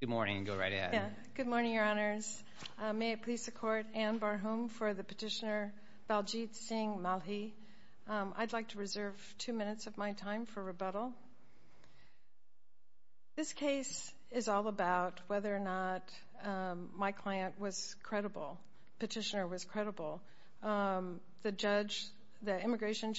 Good morning, Your Honors. May it please the Court, Anne Barhom for the petitioner Baljeet Singh Malhi. I'd like to reserve two minutes of my time for rebuttal. This case is all about whether or not my client was credible, petitioner was credible. The judge, the immigration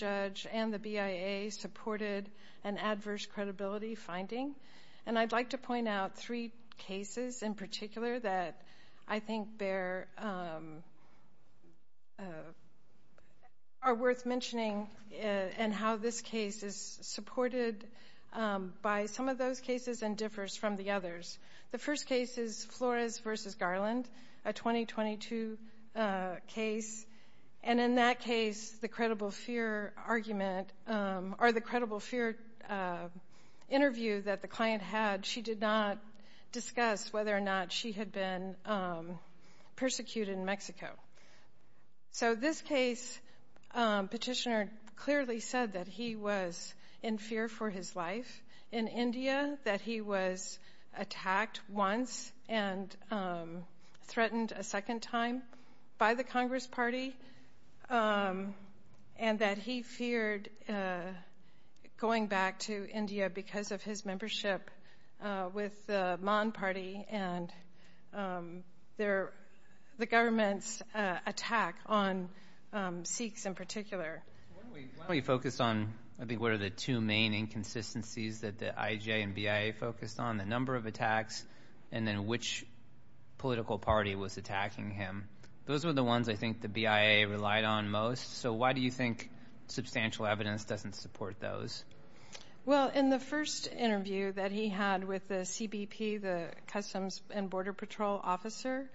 point out three cases in particular that I think are worth mentioning and how this case is supported by some of those cases and differs from the others. The first case is Flores v. Garland, a 2022 case. And in that case, the credible fear argument or the credible client had, she did not discuss whether or not she had been persecuted in Mexico. So this case, petitioner clearly said that he was in fear for his life in India, that he was attacked once and threatened a second time by the Congress party, and that he feared going back to India because of his membership with the Mon party and the government's attack on Sikhs in particular. Why don't we focus on, I think, what are the two main inconsistencies that the IJ and BIA focused on, the number of attacks and then which political party was attacking him. Those are the ones I think the BIA relied on most. So why do you think substantial evidence doesn't support those? Well, in the first interview that he had with the CBP, the Customs and Border Patrol officer,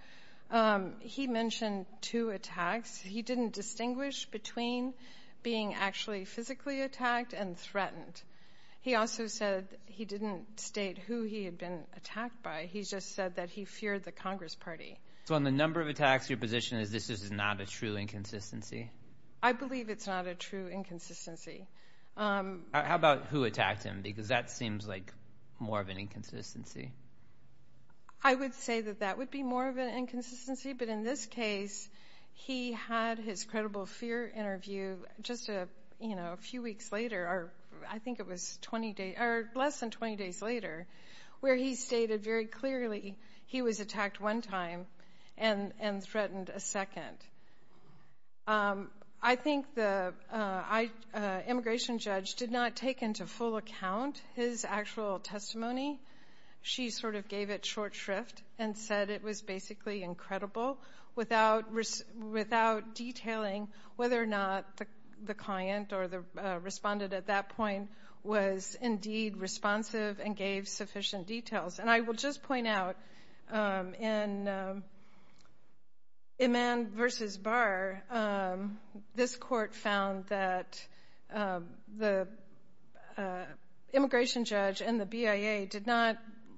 he mentioned two attacks. He didn't distinguish between being actually physically attacked and threatened. He also said he didn't state who he had been attacked by. He just said that he feared the Congress party. So on the number of attacks, your position is this is not a true inconsistency? I believe it's not a true inconsistency. How about who attacked him? Because that seems like more of an inconsistency. I would say that that would be more of an inconsistency, but in this case, he had his credible fear interview just a few weeks later, I think it was less than 20 days later, where he stated very clearly he was attacked one time and threatened a second. I think the immigration judge did not take into full account his actual testimony. She sort of gave it short shrift and said it was basically incredible without detailing whether or not the client or the respondent at that point was indeed responsive and gave sufficient details. And I will just point out in Imman versus Barr, this court found that the immigration judge and the BIA did not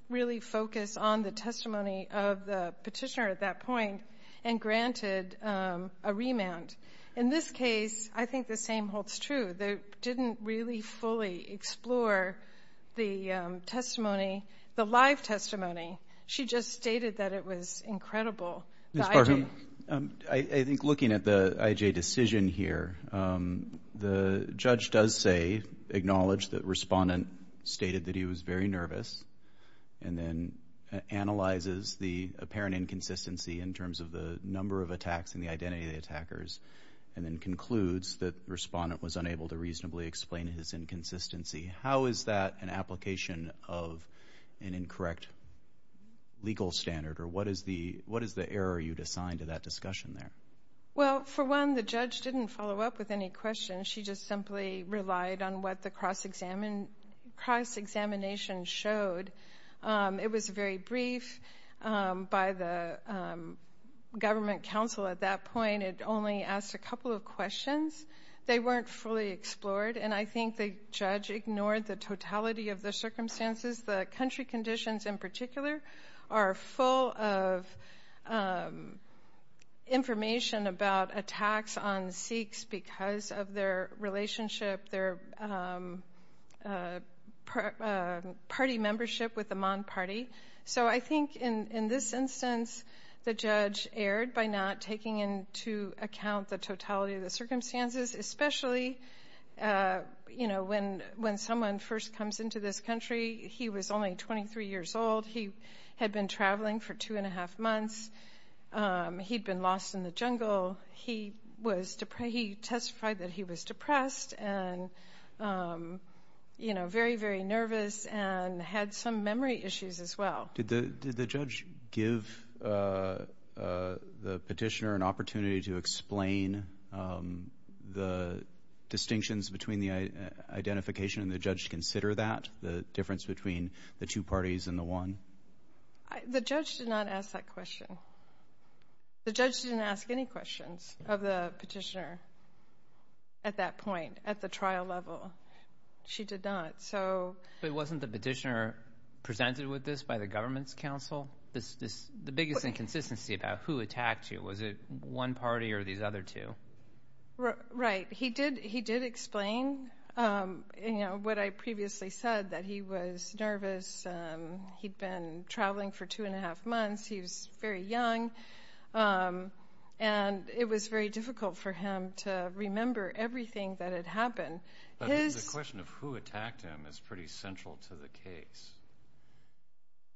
really focus on the testimony of the petitioner at that point and granted a remand. In this case, I think the same holds true. They didn't really fully explore the testimony, the live testimony. She just stated that it was incredible. Ms. Barham, I think looking at the IJ decision here, the judge does say, acknowledge that respondent stated that he was very nervous and then analyzes the apparent inconsistency in terms of the number of attacks and the identity of the attackers and then concludes that the respondent was unable to reasonably explain his inconsistency. How is that an application of an incorrect legal standard, or what is the error you'd assign to that discussion there? Well, for one, the judge didn't follow up with any questions. She just simply relied on what the cross-examination showed. It was very brief. By the government counsel at that point, it only asked a couple of questions. They weren't fully explored, and I think the judge ignored the totality of the circumstances. The country conditions in particular are full of information about attacks on Sikhs because of their relationship, their party membership with the Mon party. So I think in this instance, the judge erred by not taking into account the totality of the circumstances, especially when someone first comes into this country. He was only 23 years old. He had been traveling for two and a half months. He'd been lost in the jungle. He testified that he was depressed and very, very nervous and had some memory issues as well. Did the judge give the petitioner an opportunity to explain the distinctions between the two parties and the one? The judge did not ask that question. The judge didn't ask any questions of the petitioner at that point, at the trial level. She did not. But wasn't the petitioner presented with this by the government's counsel? The biggest inconsistency about who attacked you, was it one party or these other two? Right. He did explain what I previously said, that he was nervous. He'd been traveling for two and a half months. He was very young. And it was very difficult for him to remember everything that had happened. But the question of who attacked him is pretty central to the case.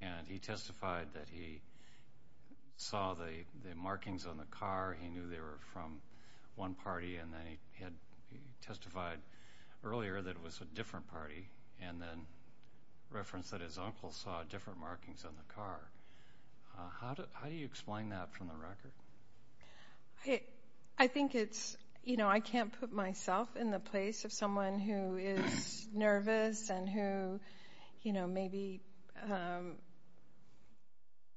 And he testified that he saw the markings on the car. He knew they were from one party. And then he testified earlier that it was a different party. And then referenced that his uncle saw different markings on the car. How do you explain that from the record? I think it's, you know, I can't put myself in the place of someone who is nervous and who, you know, maybe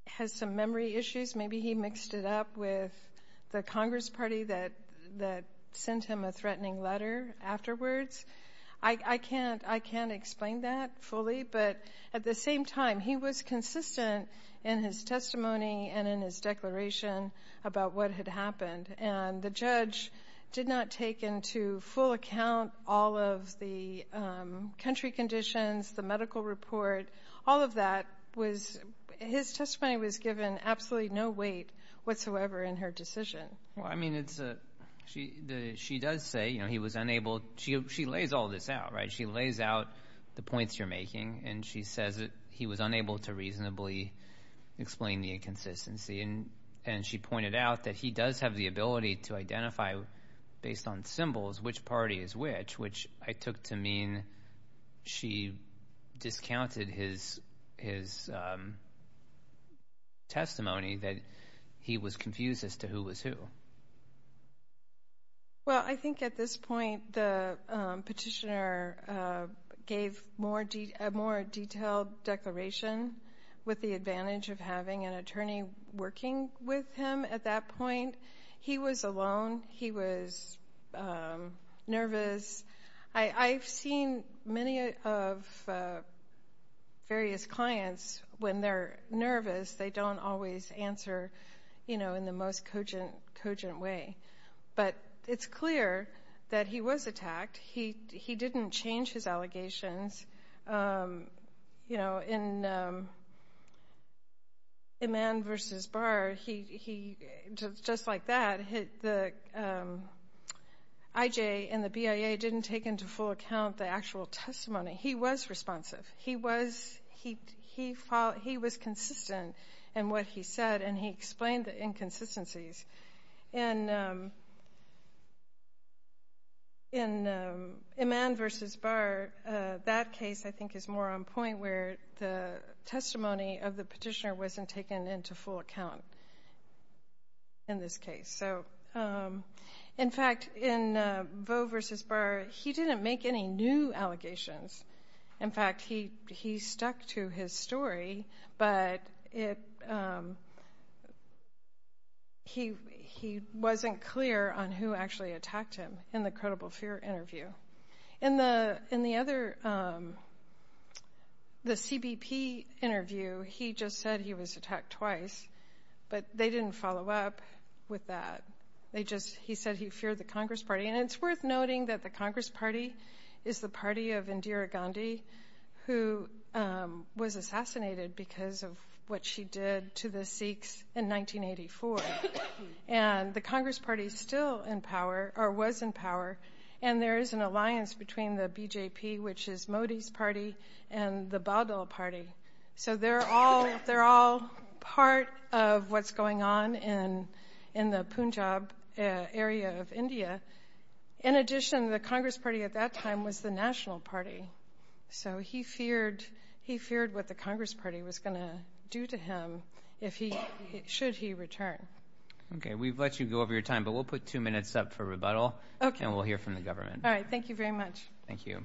has some memory issues. Maybe he mixed it up with the Congress Party that sent him a threatening letter afterwards. I can't explain that fully. But at the same time, he was consistent in his testimony and in his declaration about what had happened. And the judge did not take into full account all of the country conditions, the medical report. All of that was, his testimony was given absolutely no weight whatsoever in her decision. Well, I mean, it's, she does say, you know, he was unable, she lays all this out, right? She lays out the points you're making. And she says that he was unable to reasonably explain the inconsistency. And she pointed out that he does have the ability to identify based on symbols which party is which, which I took to mean she discounted his testimony that he was confused as to who was who. Well, I think at this point the petitioner gave a more detailed declaration with the advantage of having an attorney working with him at that point. He was alone. He was nervous. I've seen many of various clients when they're nervous, they don't always answer, you know, in an urgent way. But it's clear that he was attacked. He didn't change his allegations. You know, in Iman versus Barr, he, just like that, the IJ and the BIA didn't take into full account the actual testimony. He was responsive. He was, he was consistent in what he said and he explained the inconsistencies. And in Iman versus Barr, that case I think is more on point where the testimony of the petitioner wasn't taken into full account in this case. So, in fact, in Vaux versus Barr, he didn't make any new allegations. In fact, he stuck to his story, but it, he wasn't clear on who actually attacked him in the credible fear interview. In the other, the CBP interview, he just said he was attacked twice, but they didn't follow up with that. They just, he said he feared the Congress Party is the party of Indira Gandhi, who was assassinated because of what she did to the Sikhs in 1984. And the Congress Party still in power, or was in power, and there is an alliance between the BJP, which is Modi's party, and the Badal party. So they're all, they're all part of what's going on in the Punjab area of India. In addition, the Congress Party at that time was the National Party. So he feared, he feared what the Congress Party was going to do to him if he, should he return. Okay, we've let you go over your time, but we'll put two minutes up for rebuttal. Okay. And we'll hear from the government. All right, thank you very much. Thank you.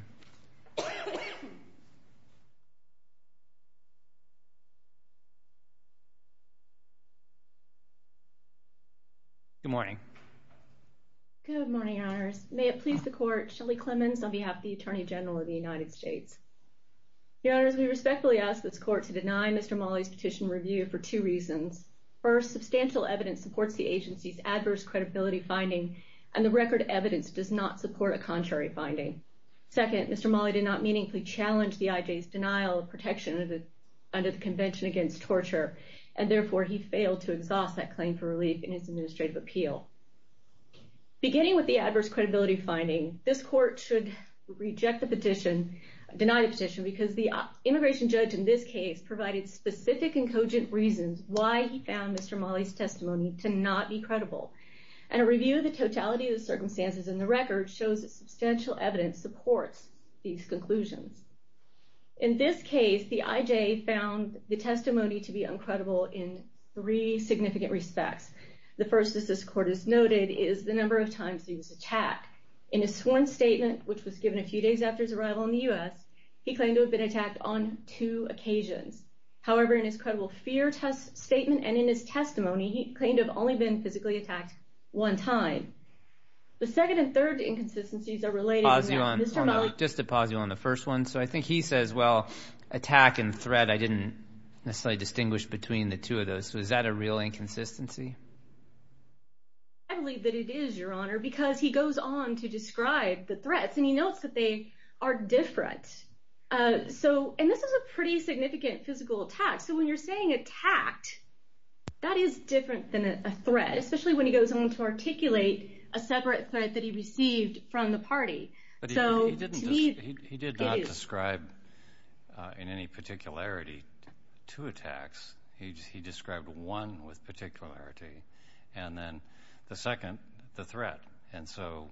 Good morning. Good morning, your honors. May it please the court, Shelley Clemons on behalf of the Attorney General of the United States. Your honors, we respectfully ask this court to deny Mr. Mali's petition review for two reasons. First, substantial evidence supports the agency's adverse credibility finding, and the record evidence does not support a contrary finding. Second, Mr. Mali did not meaningfully challenge the IJ's denial of protection under the Convention Against Torture, and therefore he failed to exhaust that claim for relief in his administrative appeal. Beginning with the adverse credibility finding, this court should reject the petition, deny the petition, because the immigration judge in this case provided specific and cogent reasons why he found Mr. Mali's testimony to not be credible. And a review of the totality of the circumstances in the record shows that substantial evidence supports these conclusions. In this case, the IJ found the testimony to be uncredible in three significant respects. The first, as this court has noted, is the number of times he was attacked. In his sworn statement, which was given a few days after his arrival in the U.S., he claimed to have been attacked on two occasions. However, in his credible fear statement and in his testimony, he claimed to have only been physically attacked one time. The second and third inconsistencies are related to Mr. Mali. Just to pause you on the first one, so I think he says, well, attack and threat, I didn't necessarily distinguish between the two of those, so is that a real inconsistency? I believe that it is, Your Honor, because he goes on to describe the threats, and he notes that they are different. And this is a pretty significant physical attack, so when you're saying attacked, that is different than a threat, especially when he goes on to articulate a separate threat that he received from the party. He did not describe in any particularity two attacks. He described one with particularity, and then the second, the threat. And so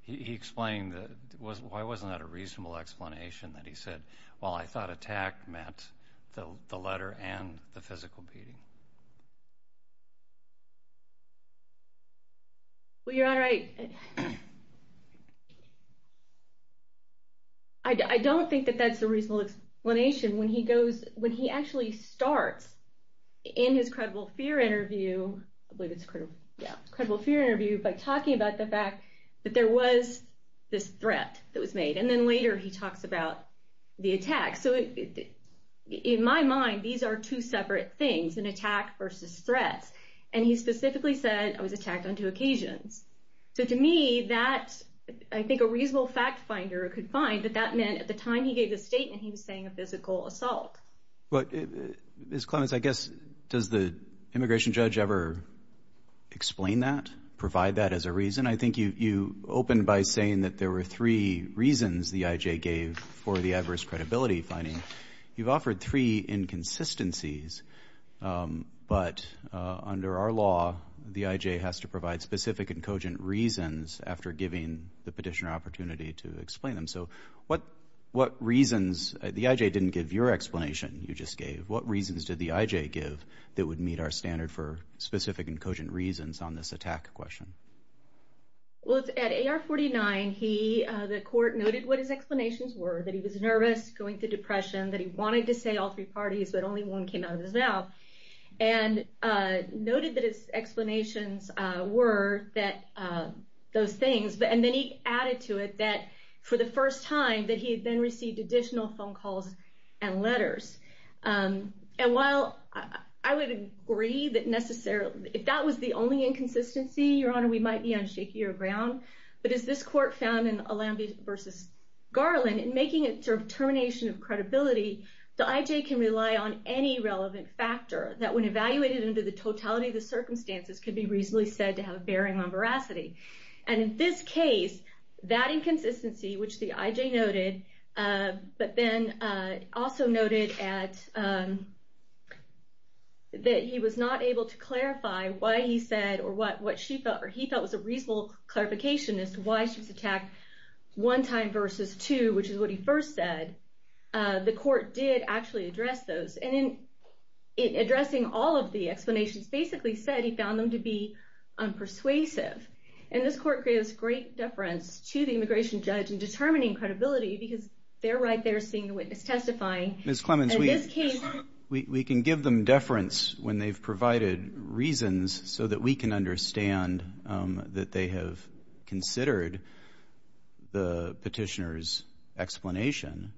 he explained, why wasn't that a reasonable explanation that he said, well, I thought attack meant the letter and the physical beating? Well, Your Honor, I don't think that that's a reasonable explanation. When he actually starts in his credible fear interview, by talking about the fact that there was this threat that was made, and then later he talks about the attack. So in my mind, these are two separate things, an attack versus threats. And he specifically said, I was attacked on two occasions. So to me, that, I think a reasonable fact finder could find that that meant at the time he gave the statement, he was saying a physical assault. But Ms. Clements, I guess, does the immigration judge ever explain that, provide that as a reason? I think you opened by saying that there were three reasons the IJ gave for the adverse credibility finding. You've offered three inconsistencies. But under our law, the IJ has to provide specific and cogent reasons after giving the petitioner opportunity to explain them. So what reasons, the IJ didn't give your explanation you just gave. What reasons did the IJ give that would meet our standard for specific and cogent reasons on this attack question? Well, at AR 49, the court noted what his explanations were, that he was nervous, going to depression, that he wanted to say all three parties, but only one came out of his mouth. And noted that his explanations were those things. And then he added to it that for the first time that he had then received additional phone calls and letters. And while I would agree that necessarily, if that was the only inconsistency, Your Honor, we might be on shakier ground. But as this court found in Alamby v. Garland, in making a determination of credibility, the IJ can rely on any relevant factor that when evaluated under the totality of the circumstances could be reasonably said to have bearing on veracity. And in this case, that inconsistency, which the IJ noted, but then also noted that he was not able to clarify why he said, or what he felt was a reasonable clarification as to why she was attacked one time versus two, which is what he first said, the court did actually address those. And in addressing all of the explanations, basically said he found them to be unpersuasive. And this court gave us great deference to the immigration judge in determining credibility, because they're right there seeing the witness testifying. Mr. Clemens, we can give them deference when they've provided reasons so that we can understand that they have considered the petitioner's explanation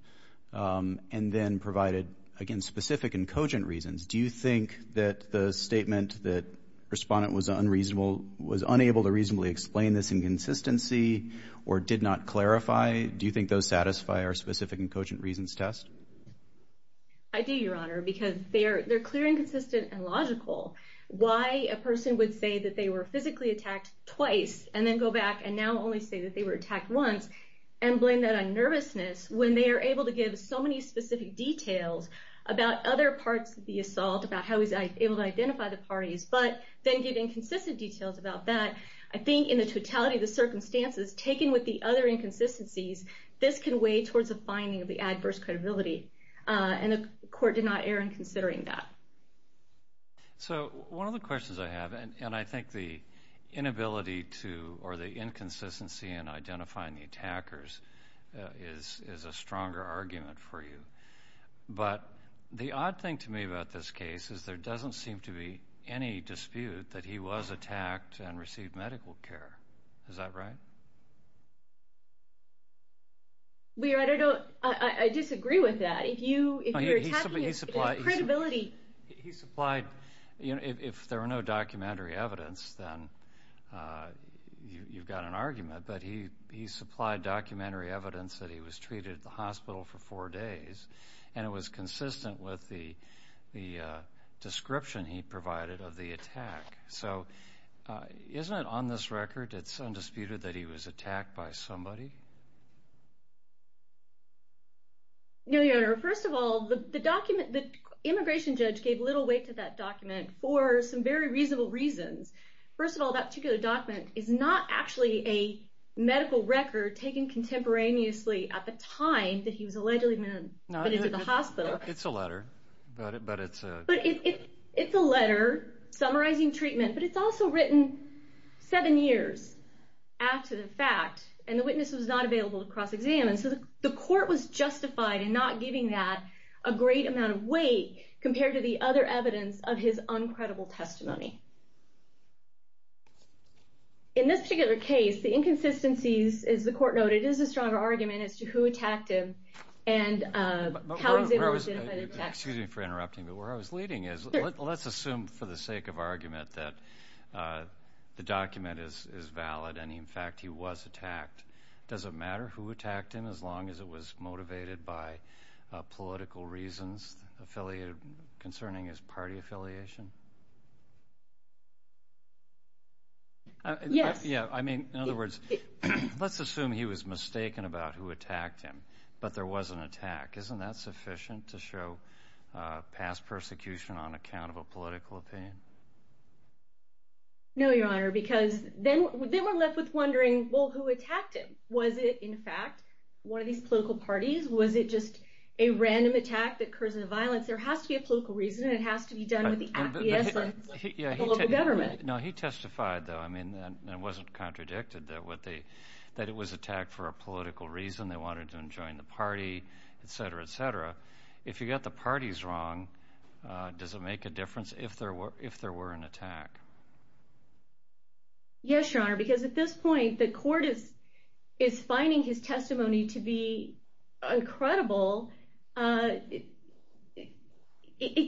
and then provided, again, specific and cogent reasons. Do you think that the statement that the respondent was unreasonable, was unable to reasonably explain this inconsistency or did not clarify, do you think those satisfy our specific and cogent reasons test? I do, Your Honor, because they're clear and consistent and logical. Why a person would say that they were physically attacked twice and then go back and now only say that they were attacked once and blame that on nervousness when they are able to give so many specific details about other parts of the assault, about how he was able to identify the parties, but then give inconsistent details about that. I think in the totality of the circumstances taken with the other inconsistencies, this can weigh towards a finding of the adverse credibility, and the court did not err in considering that. So, one of the questions I have, and I think the inability to, or the inconsistency in identifying the attackers is a stronger argument for you, but the odd thing to me about this case is there doesn't seem to be any dispute that he was attacked and received medical care. Is that right? Well, Your Honor, I disagree with that. If you're attacking his credibility... He supplied, if there were no documentary evidence, then you've got an argument, but he supplied documentary evidence that he was treated at the hospital for four days, and was consistent with the description he provided of the attack. So, isn't it on this record that it's undisputed that he was attacked by somebody? No, Your Honor. First of all, the immigration judge gave little weight to that document for some very reasonable reasons. First of all, that particular document is not actually a medical record taken contemporaneously at the time that he was allegedly admitted to the hospital. It's a letter, but it's a... It's a letter summarizing treatment, but it's also written seven years after the fact, and the witness was not available to cross-examine, so the court was justified in not giving that a great amount of weight compared to the other evidence of his uncredible testimony. In this particular case, the inconsistencies, as the court noted, is a stronger argument as to who attacked him and how he was able to identify the attacker. Excuse me for interrupting, but where I was leading is, let's assume for the sake of argument that the document is valid and, in fact, he was attacked. Does it matter who attacked him as long as it was motivated by political reasons concerning his party affiliation? Yes. Yeah, I mean, in other words, let's assume he was mistaken about who attacked him, but there was an attack. Isn't that sufficient to show past persecution on account of a political opinion? No, Your Honor, because then we're left with wondering, well, who attacked him? Was it, in fact, one of these political parties? Was it just a random attack that occurs in the violence? There has to be a political reason, and it has to be done with the acquiescence of the local government. No, he testified, though. I mean, it wasn't contradicted that it was attacked for a political reason. They wanted him to join the party, etc., etc. If you got the parties wrong, does it make a difference if there were an attack? Yes, Your Honor, because at this point, the court is finding his testimony to be incredible. It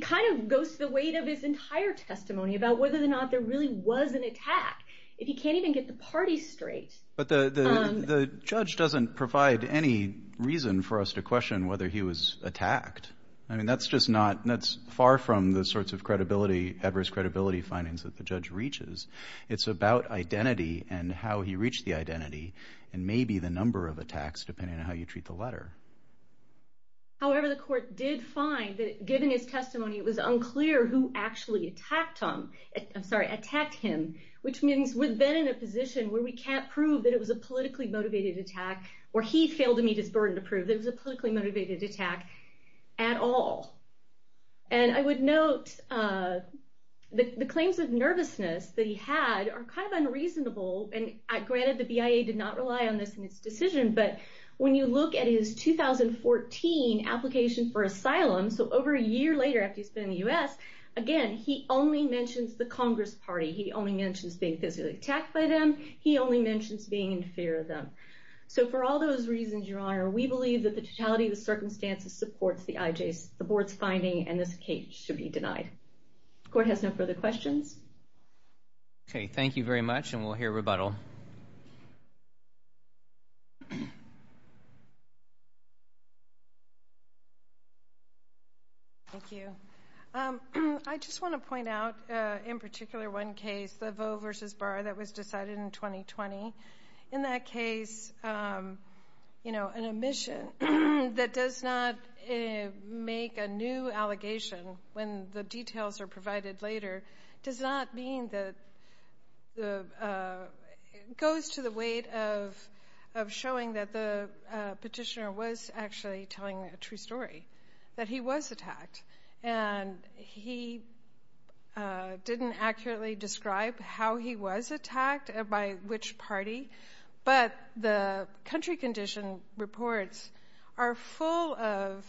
kind of goes to the weight of his entire testimony about whether or not there really was an attack. If he can't even get the parties straight... But the judge doesn't provide any reason for us to question whether he was attacked. I mean, there are all sorts of adverse credibility findings that the judge reaches. It's about identity and how he reached the identity, and maybe the number of attacks, depending on how you treat the letter. However, the court did find that, given his testimony, it was unclear who actually attacked him, which means we've been in a position where we can't prove that it was a politically motivated attack, or he failed to meet his burden to prove that it was a politically motivated attack. The claims of nervousness that he had are kind of unreasonable. Granted, the BIA did not rely on this in its decision, but when you look at his 2014 application for asylum, so over a year later after he's been in the U.S., again, he only mentions the Congress Party. He only mentions being physically attacked by them. He only mentions being in fear of them. For all those reasons, Your Honor, we believe that the totality of the circumstances supports the IJ's, the board's finding, and this case should be denied. Court has no further questions. Okay. Thank you very much, and we'll hear rebuttal. Thank you. I just want to point out, in particular, one case, the Voe v. Barr that was decided in 2020. In that case, you know, an omission that does not make a new allegation when the details are provided later does not mean that the, goes to the weight of showing that the petitioner was actually telling a true story, that he was attacked, and he didn't accurately describe how he was attacked and by which party, but the country condition reports are full of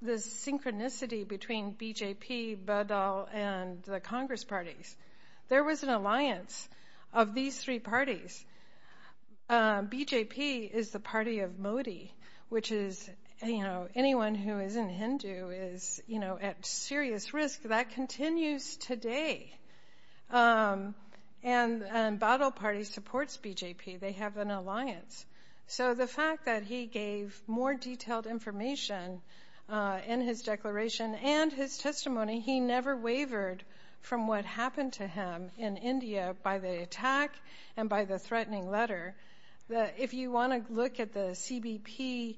this synchronicity between BJP, Badal, and the Congress Parties. There was an alliance of these three parties. BJP is the party of Modi, which is, you know, anyone who isn't a Hindu is, you know, at serious risk. That continues today. And Badal Party supports BJP. They have an alliance. So the fact that he gave more detailed information in his declaration and his testimony, he never wavered from what happened to him in India by the attack and by the threatening letter. If you want to look at the CBP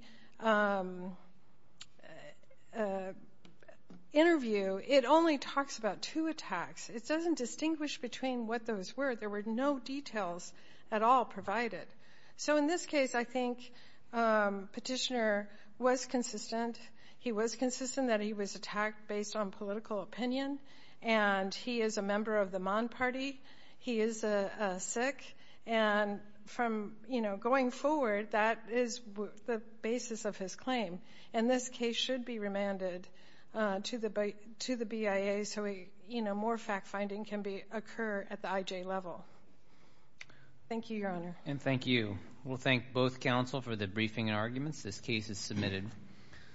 interview, it only talks about two attacks. It doesn't distinguish between what those were. There were no details at all provided. So in this case, I think petitioner was consistent. He was consistent that he was And from, you know, going forward, that is the basis of his claim. And this case should be remanded to the BIA so, you know, more fact-finding can occur at the IJ level. Thank you, Your Honor. And thank you. We'll thank both counsel for the briefing and arguments. This case is submitted.